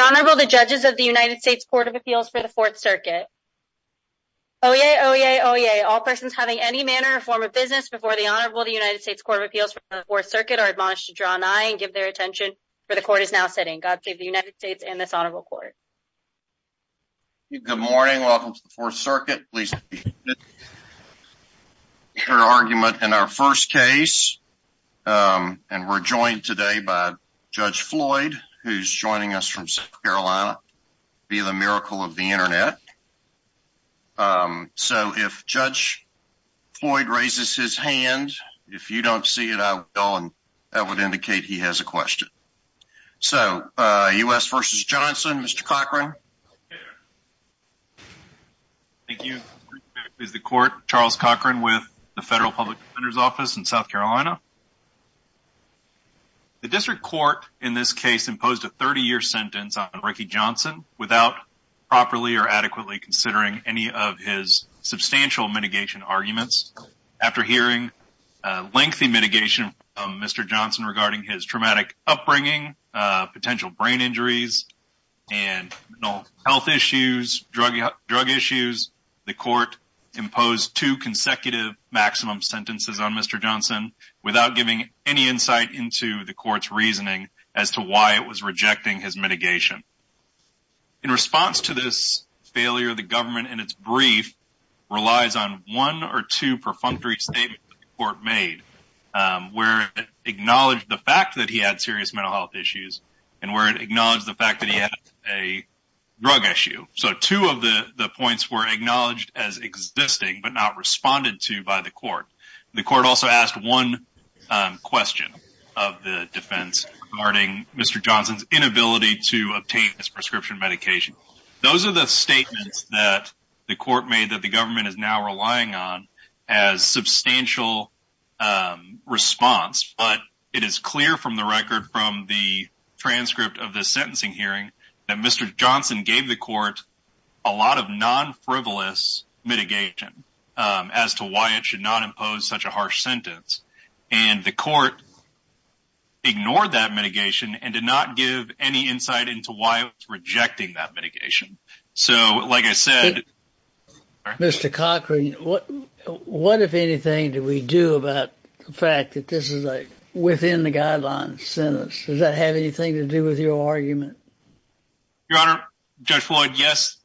Honorable the judges of the United States Court of Appeals for the Fourth Circuit. Oh, yeah. Oh, yeah. Oh, yeah. All persons having any manner or form of business before the Honorable the United States Court of Appeals for the Fourth Circuit are admonished to draw an eye and give their attention for the court is now sitting. God save the United States and this honorable court. Good morning. Welcome to the Fourth Circuit. Please your argument in our first case. Um, and we're joined today by Judge Floyd, who's joining us from South Carolina. Be the miracle of the Internet. Um, so if Judge Floyd raises his hand, if you don't see it, I will. And that would indicate he has a question. So, uh, U. S versus Johnson, Mr Cochran. Thank you. Is the court Charles Cochran with the federal public defender's office in South Carolina. Yeah. The district court in this case imposed a 30 year sentence on Ricky Johnson without properly or adequately considering any of his substantial mitigation arguments. After hearing lengthy mitigation, Mr Johnson regarding his traumatic upbringing, potential brain injuries and health issues, drug drug issues. The court imposed two consecutive maximum sentences on Mr Johnson without giving any insight into the court's reasoning as to why it was rejecting his mitigation. In response to this failure, the government and its brief relies on one or two perfunctory statements court made where acknowledged the fact that he had serious mental health issues and where it acknowledged the fact that he had a drug issue. So two of the points were acknowledged as existing but not the court also asked one question of the defense regarding Mr Johnson's inability to obtain his prescription medication. Those are the statements that the court made that the government is now relying on as substantial, um, response. But it is clear from the record from the transcript of the sentencing hearing that Mr Johnson gave the court a lot of non frivolous mitigation as to why it should not impose such a harsh sentence. And the court ignored that mitigation and did not give any insight into why it's rejecting that mitigation. So, like I said, Mr Cochran, what? What, if anything, do we do about the fact that this is a within the guidelines sentence? Does that have anything to do with your argument, Your Honor? Judge Floyd? Yes,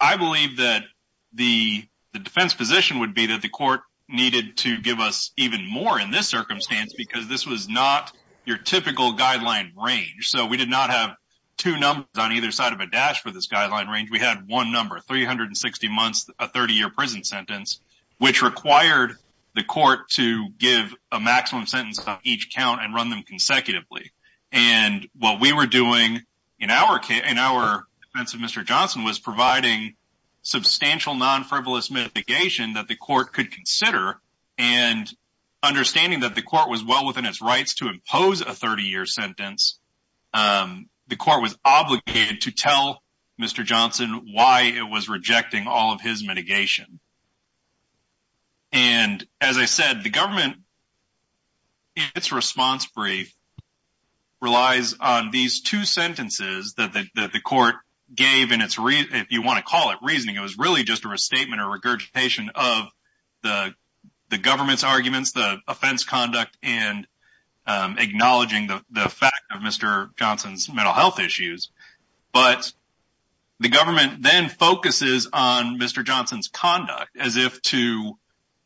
I believe that the defense position would be that the court needed to give us even more in this circumstance because this was not your typical guideline range. So we did not have two numbers on either side of a dash for this guideline range. We had one number, 360 months, a 30 year prison sentence, which required the court to give a maximum sentence of each count and run them consecutively. And what we were doing in our in our defensive Mr Johnson was providing substantial non frivolous mitigation that the court could consider and understanding that the court was well within its rights to impose a 30 year sentence. Um, the court was obligated to tell Mr Johnson why it was rejecting all of his mitigation. And as I said, the government its response brief relies on these two sentences that the court gave in its reason. If you want to call it reasoning, it was really just a restatement or regurgitation of the government's arguments, the offense conduct and acknowledging the fact of Mr Johnson's mental health issues. But the government then focuses on Mr Johnson's conduct as if to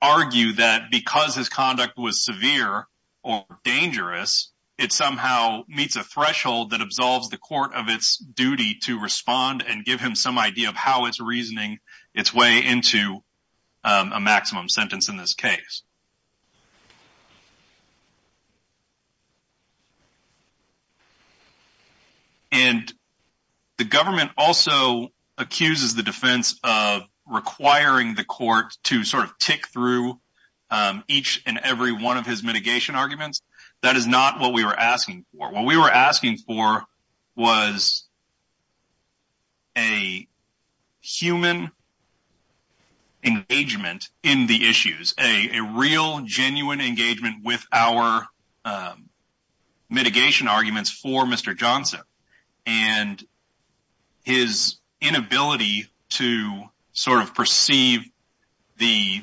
argue that because his conduct was severe or dangerous, it somehow meets a threshold that absolves the court of its duty to respond and give him some idea of how it's reasoning its way into a maximum sentence in this case. And the government also accuses the defense of requiring the court to sort through each and every one of his mitigation arguments. That is not what we were asking for. What we were asking for was a human engagement in the issues, a real genuine engagement with our, um, mitigation arguments for Mr Johnson and his inability to sort of perceive the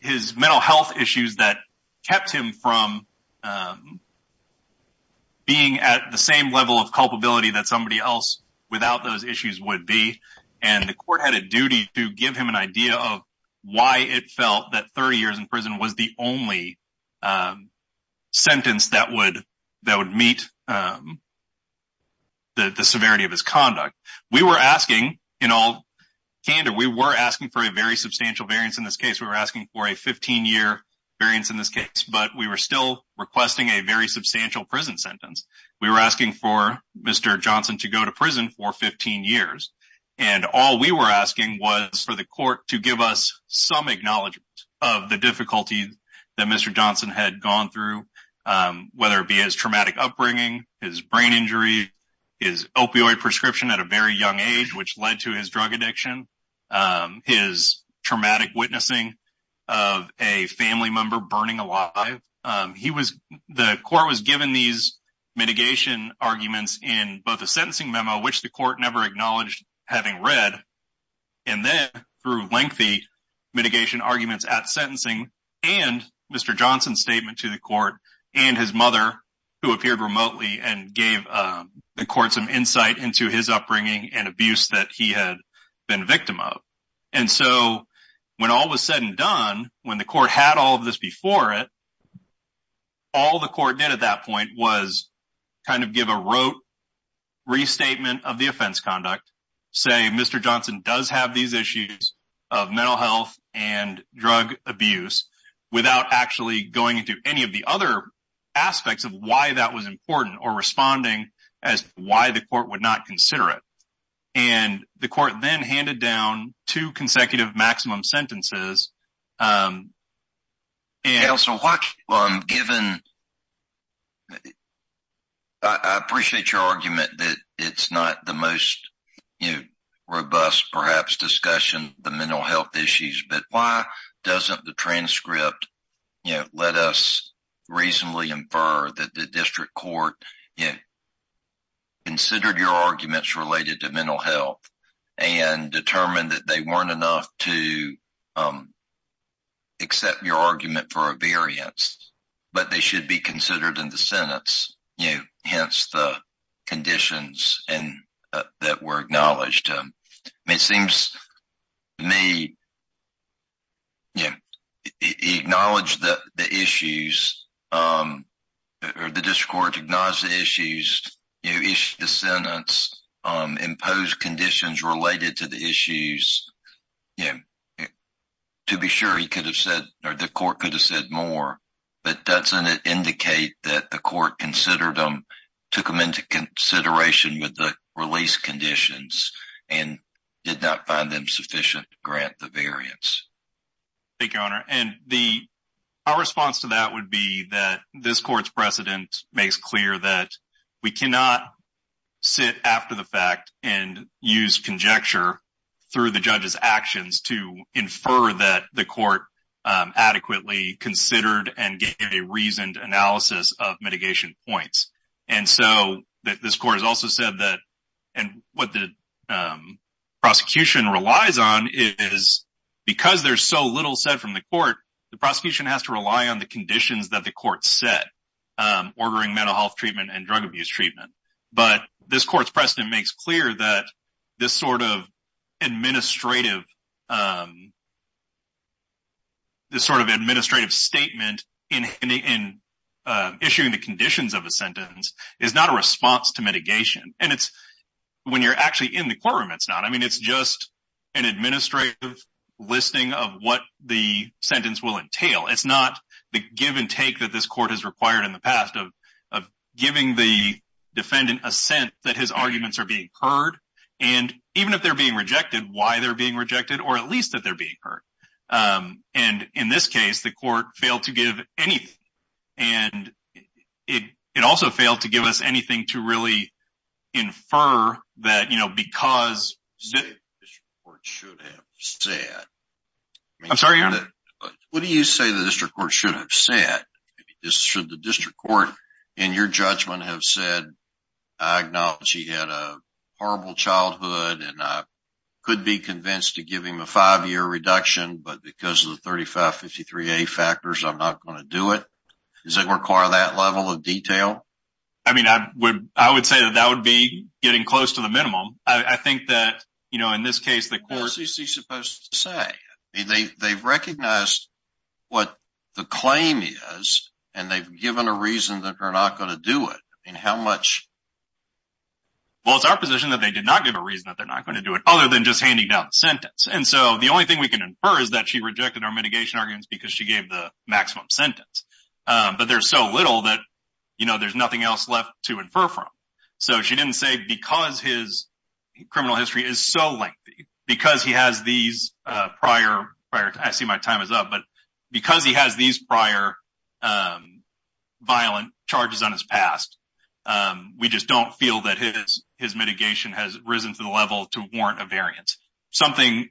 his mental health issues that kept him from, um, being at the same level of culpability that somebody else without those issues would be. And the court had a duty to give him an idea of why it felt that 30 years in prison was the only, um, sentence that would that would meet, um, the severity of his conduct. We were asking in all candor. We were asking for a very substantial variance. In this case, we were asking for a 15 year variance in this case, but we were still requesting a very substantial prison sentence. We were asking for Mr Johnson to go to prison for 15 years, and all we were asking was for the court to give us some acknowledgment of the difficulty that Mr Johnson had gone through, um, whether it be his traumatic upbringing, his brain injury, his opioid prescription at a very young age, which led to his drug addiction, um, his traumatic witnessing of a family member burning alive. He was the court was given these mitigation arguments in both the sentencing memo, which the court never acknowledged having read. And then through lengthy mitigation arguments at sentencing and Mr Johnson statement to the court and his mother, who appeared remotely and gave the court insight into his upbringing and abuse that he had been victim of. And so when all was said and done when the court had all of this before it, all the court did at that point was kind of give a rope restatement of the offense conduct. Say Mr Johnson does have these issues of mental health and drug abuse without actually going into any of the other aspects of why that was important or responding as why the court would not consider it. And the court then handed down two consecutive maximum sentences. Um, and also what given I appreciate your argument that it's not the most, you know, robust, perhaps discussion the mental health issues. But why doesn't the transcript, you district court, you considered your arguments related to mental health and determined that they weren't enough to, um, accept your argument for a variance, but they should be considered in the Senate's, you know, hence the conditions and that were acknowledged. Um, it seems me, yeah, acknowledge the issues. Um, or the district court acknowledged the issues. You issued the sentence, um, imposed conditions related to the issues. Yeah. To be sure he could have said, or the court could have said more, but doesn't it indicate that the court considered them, took him into consideration with the release conditions and did not find them efficient? Grant the variance. Thank you, Honor. And the response to that would be that this court's precedent makes clear that we cannot sit after the fact and use conjecture through the judge's actions to infer that the court, um, adequately considered and gave a reasoned analysis of mitigation points. And so this court has also said that and what the, um, prosecution relies on is because there's so little said from the court, the prosecution has to rely on the conditions that the court said, um, ordering mental health treatment and drug abuse treatment. But this court's precedent makes clear that this sort of administrative, um, this sort of administrative statement in, uh, issuing the conditions of a sentence is not a response to mitigation. And it's when you're actually in the courtroom, it's not. I mean, it's just an administrative listing of what the sentence will entail. It's not the give and take that this court has required in the past of giving the defendant a sense that his arguments are being heard. And even if they're being rejected, why they're being rejected, or at least that they're being hurt. Um, and in this case, the court failed to give anything. And it also failed to give us anything to really infer that, you know, because should have said, I'm sorry. What do you say? The district court should have said this should the district court in your judgment have said, I acknowledge he had a horrible childhood and I could be convinced to give him a five year reduction. But because of the 35 53 a factors, I'm not going to do it. Does require that level of detail. I mean, I would I would say that that would be getting close to the minimum. I think that, you know, in this case, the court is supposed to say they they've recognized what the claim is, and they've given a reason that we're not going to do it. And how much? Well, it's our position that they did not give a reason that they're not going to do it other than just handing out sentence. And so the only thing we can infer is that she rejected our mitigation arguments because she gave the maximum sentence. But there's so little that, you know, there's nothing else left to infer from. So she didn't say because his criminal history is so lengthy because he has these prior. I see my time is up. But because he has these prior, um, violent charges on his past, we just don't feel that his his mitigation has risen to the level to warrant a variance. Something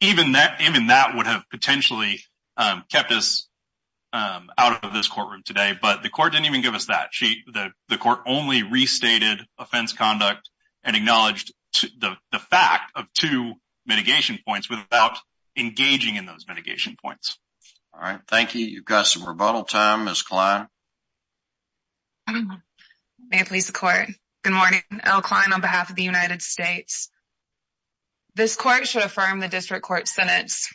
even that even that would have potentially kept us out of this courtroom today. But the court didn't even give us that. She the court only restated offense conduct and acknowledged the fact of two mitigation points without engaging in those mitigation points. All right, thank you. You've got some rebuttal time, Miss Klein. May please the court. Good morning. L. Klein on behalf of the United States. This court should affirm the district court sentence.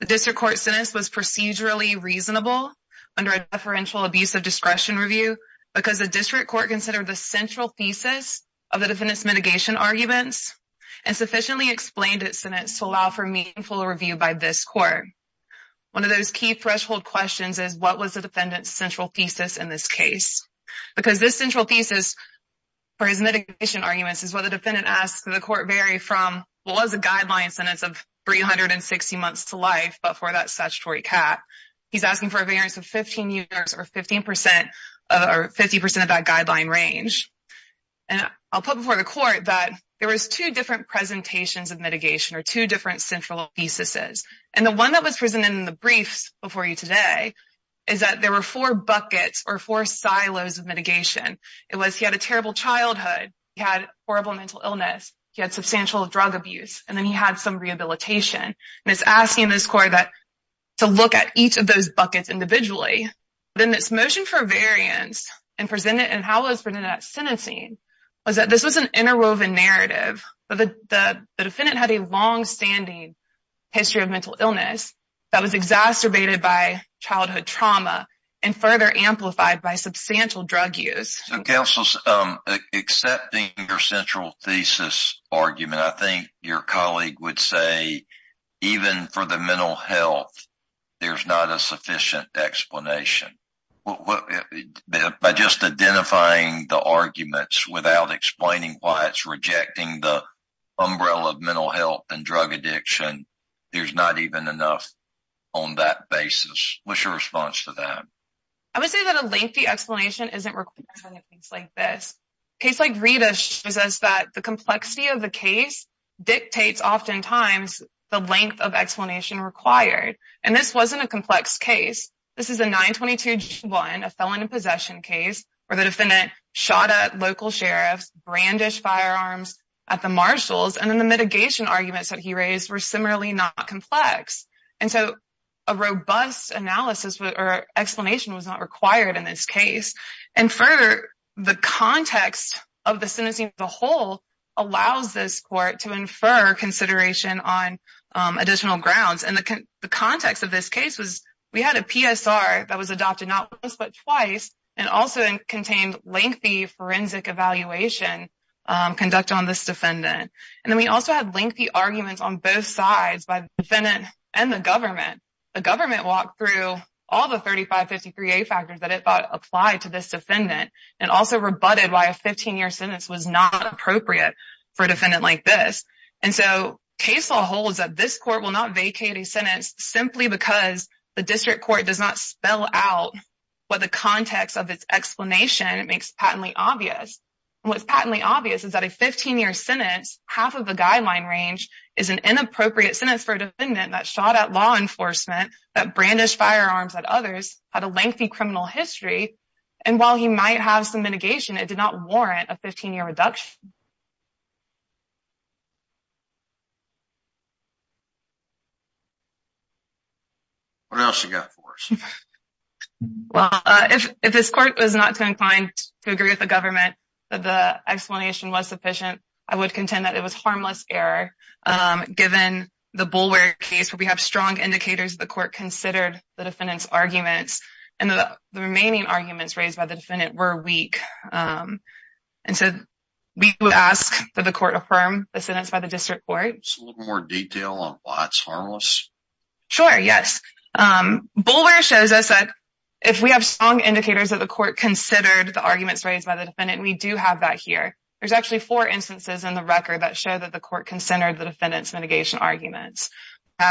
The district court sentence was procedurally reasonable under a deferential abuse of discretion review because the district court considered the central thesis of the defendant's mitigation arguments and sufficiently explained its sentence to allow for meaningful review by this court. One of those key threshold questions is what was the defendant's central thesis in this case? Because this central thesis for his mitigation arguments is what the defendant asked the court vary from was a guideline sentence of 360 months to life. But for that statutory cap, he's asking for a variance of 15 years or 15% or 50% of that guideline range. And I'll put before the court that there was two different presentations of mitigation or two different central thesis is and the one that was presented in the briefs before you today is that there were four buckets or four silos of mitigation. It was he had a terrible childhood, he had horrible mental illness, he had substantial drug abuse and then he had some rehabilitation and it's asking this court that to look at each of those buckets individually. Then this motion for variance and presented and how was presented at sentencing was that this was an interwoven narrative. But the defendant had a long standing history of mental illness that was exacerbated by childhood trauma and further amplified by substantial drug use. Councils accepting your central thesis argument, I think your colleague would say, even for the mental health, there's not a sufficient explanation by just identifying the arguments without explaining why it's rejecting the umbrella of mental health and drug addiction. There's not even enough on that basis. What's your response to I would say that a lengthy explanation isn't like this case. Like Rita says that the complexity of the case dictates oftentimes the length of explanation required and this wasn't a complex case. This is a 9 22 1, a felon in possession case where the defendant shot at local sheriff's brandish firearms at the marshals and then the mitigation arguments that he explanation was not required in this case. And further, the context of the sentencing the whole allows this court to infer consideration on additional grounds. And the context of this case was we had a PSR that was adopted not once but twice and also contained lengthy forensic evaluation conduct on this defendant. And then we also had lengthy arguments on both sides by defendant and the government. The government walked through all the 35 53 a factors that it thought applied to this defendant and also rebutted why a 15 year sentence was not appropriate for a defendant like this. And so case law holds that this court will not vacate a sentence simply because the district court does not spell out what the context of its explanation makes patently obvious. What's patently obvious is that a 15 year sentence, half of the guideline range is an inappropriate sentence for a defendant that shot at law enforcement that brandish firearms at others had a lengthy criminal history. And while he might have some mitigation, it did not warrant a 15 year reduction. What else you got for us? Well, if this court was not going to find to agree with the government that the explanation was sufficient, I would contend that it was harmless error. Um, given the bulwark case where we have strong indicators, the court considered the defendant's arguments and the remaining arguments raised by the defendant were weak. Um, and so we would ask that the court affirm the sentence by the district court more detail on what's harmless. Sure. Yes. Um, boulder shows us that if we have strong indicators that the court considered the arguments raised by the defendant, we do have that here. There's actually four instances in the record that show that the court considered the defendant's mitigation arguments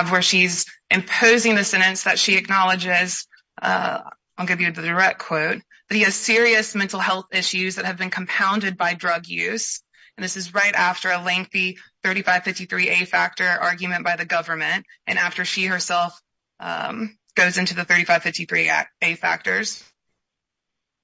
where she's imposing the sentence that she acknowledges. Uh, I'll give you the direct quote. He has serious mental health issues that have been compounded by drug use. And this is right after a lengthy 35 53 a factor argument by the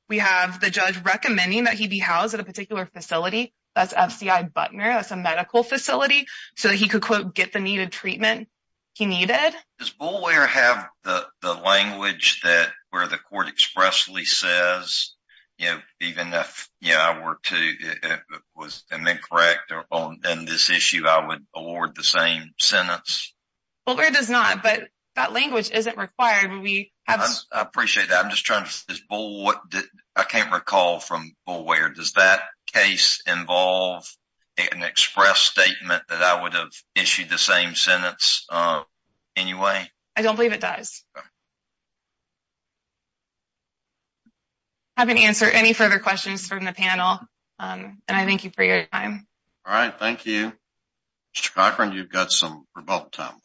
we have the judge recommending that he be housed at a particular facility. That's F. C. I. Butner. That's a medical facility so he could quote get the needed treatment he needed. Does bull wear have the language that where the court expressly says, you know, even if you know, I were to was and then correct on this issue, I would award the same sentence. Well, where does not? But that language isn't required when we have appreciate that. I'm just this boy. I can't recall from where does that case involve an express statement that I would have issued the same sentence. Uh, anyway, I don't believe it does. I haven't answered any further questions from the panel. Um, and I thank you for your time. All right. Thank you. Mr Cochran. You've got some about time left.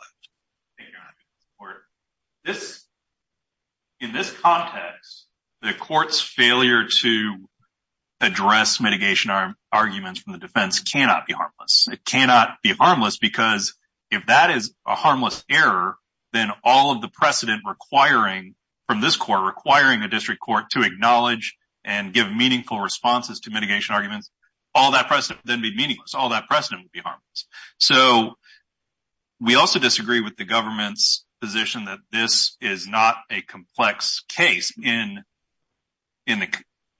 This in this context, the court's failure to address mitigation arguments from the defense cannot be harmless. It cannot be harmless because if that is a harmless error, then all of the precedent requiring from this court requiring the district court to acknowledge and give meaningful responses to mitigation arguments. All that president then be meaningless. All we also disagree with the government's position that this is not a complex case in in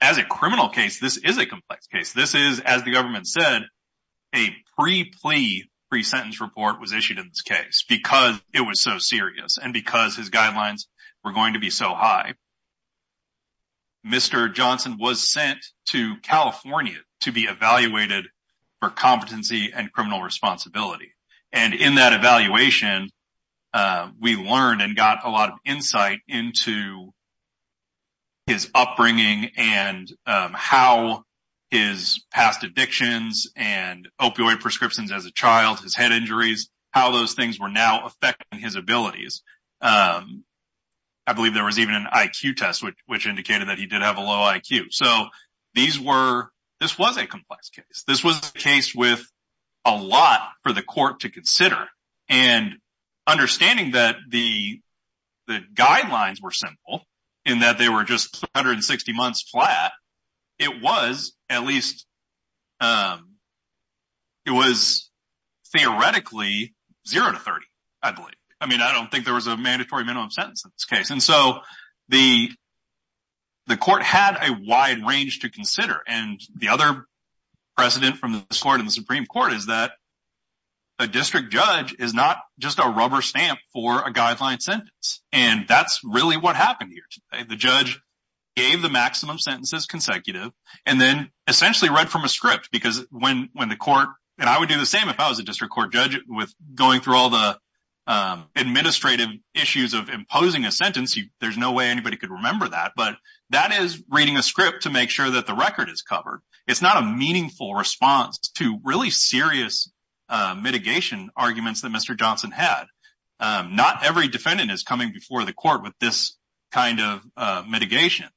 as a criminal case. This is a complex case. This is, as the government said, a pre plea pre sentence report was issued in this case because it was so serious and because his guidelines were going to be so high. Mr Johnson was sent to California to be evaluated for competency and criminal responsibility. And in that evaluation, uh, we learned and got a lot of insight into his upbringing and how his past addictions and opioid prescriptions as a child, his head injuries, how those things were now affecting his abilities. Um, I believe there was even an I. Q. Test, which indicated that he did have a low I. Q. So these were this was a complex case. This was a case with a lot for the court to consider and understanding that the the guidelines were simple in that they were just 160 months flat. It was at least, um, it was theoretically 0 to 30. I believe. I mean, I don't think there was a mandatory minimum sentence in this case. And so the the court had a wide range to consider. And the other precedent from this court in the Supreme Court is that a district judge is not just a rubber stamp for a guideline sentence. And that's really what happened here. The judge gave the maximum sentences consecutive and then essentially read from a script because when when the court and I would do the same if I was a district court judge with going through all the, um, administrative issues of imposing a sentence, there's no way anybody could remember that. But that is reading a script to make sure that the record is covered. It's not a meaningful response to really serious mitigation arguments that Mr Johnson had. Um, not every defendant is coming before the court with this kind of mitigation.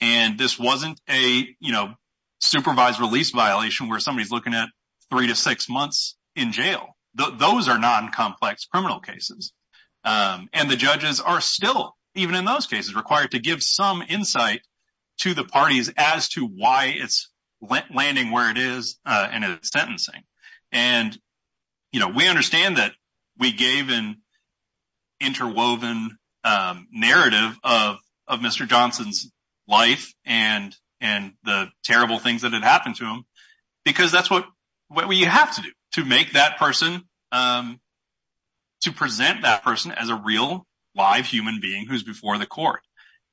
And this wasn't a, you know, supervised release violation where somebody's looking at 3 to 6 months in jail. Those are non complex criminal cases. Um, and the judges are still even in those cases required to give some insight to the parties as to why it's landing where it is and it's sentencing. And, you know, we understand that we gave in interwoven narrative of of Mr Johnson's life and and the terrible things that had happened to him because that's what you have to do to make that person, um, to present that person as a real live human being who's before the court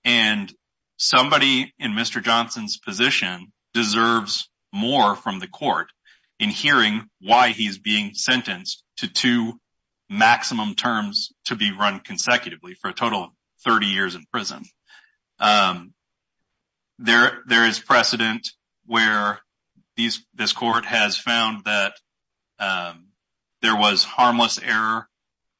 and somebody in Mr Johnson's position deserves more from the court in hearing why he's being sentenced to two maximum terms to be run consecutively for a total of 30 years in prison. Um, there there is precedent where these this court has found that, um, there was harmless error.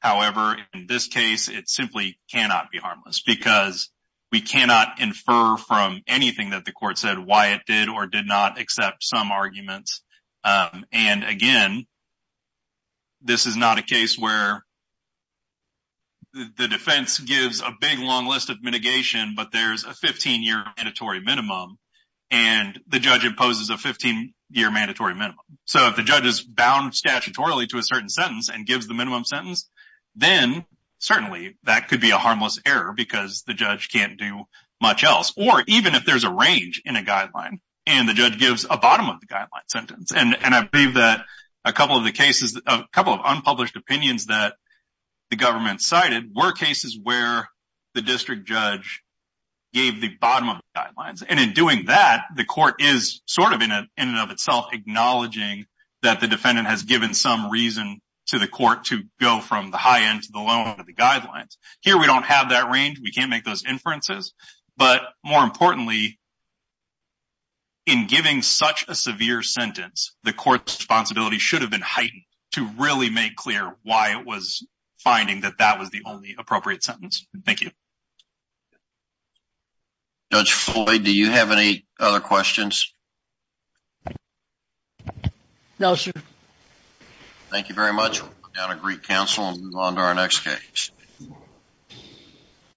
However, in this case, it simply cannot be harmless because we cannot infer from anything that the court said why it did or did not accept some arguments. Um, and again, this is not a case where the defense gives a big long list of mitigation. But there's a 15 year mandatory minimum, and the judge imposes a 15 year mandatory minimum. So if the gives the minimum sentence, then certainly that could be a harmless error because the judge can't do much else. Or even if there's a range in a guideline and the judge gives a bottom of the guideline sentence, and I believe that a couple of the cases, a couple of unpublished opinions that the government cited were cases where the district judge gave the bottom of guidelines. And in doing that, the court is sort of in a in and of itself acknowledging that the defendant has given some reason to the court to go from the high end to the low end of the guidelines here. We don't have that range. We can't make those inferences. But more importantly, in giving such a severe sentence, the court's responsibility should have been heightened to really make clear why it was finding that that was the only appropriate sentence. Thank you. Judge Floyd, do you have any other questions? No, sir. Thank you very much. We'll come down to Greek Council and move on to our next case.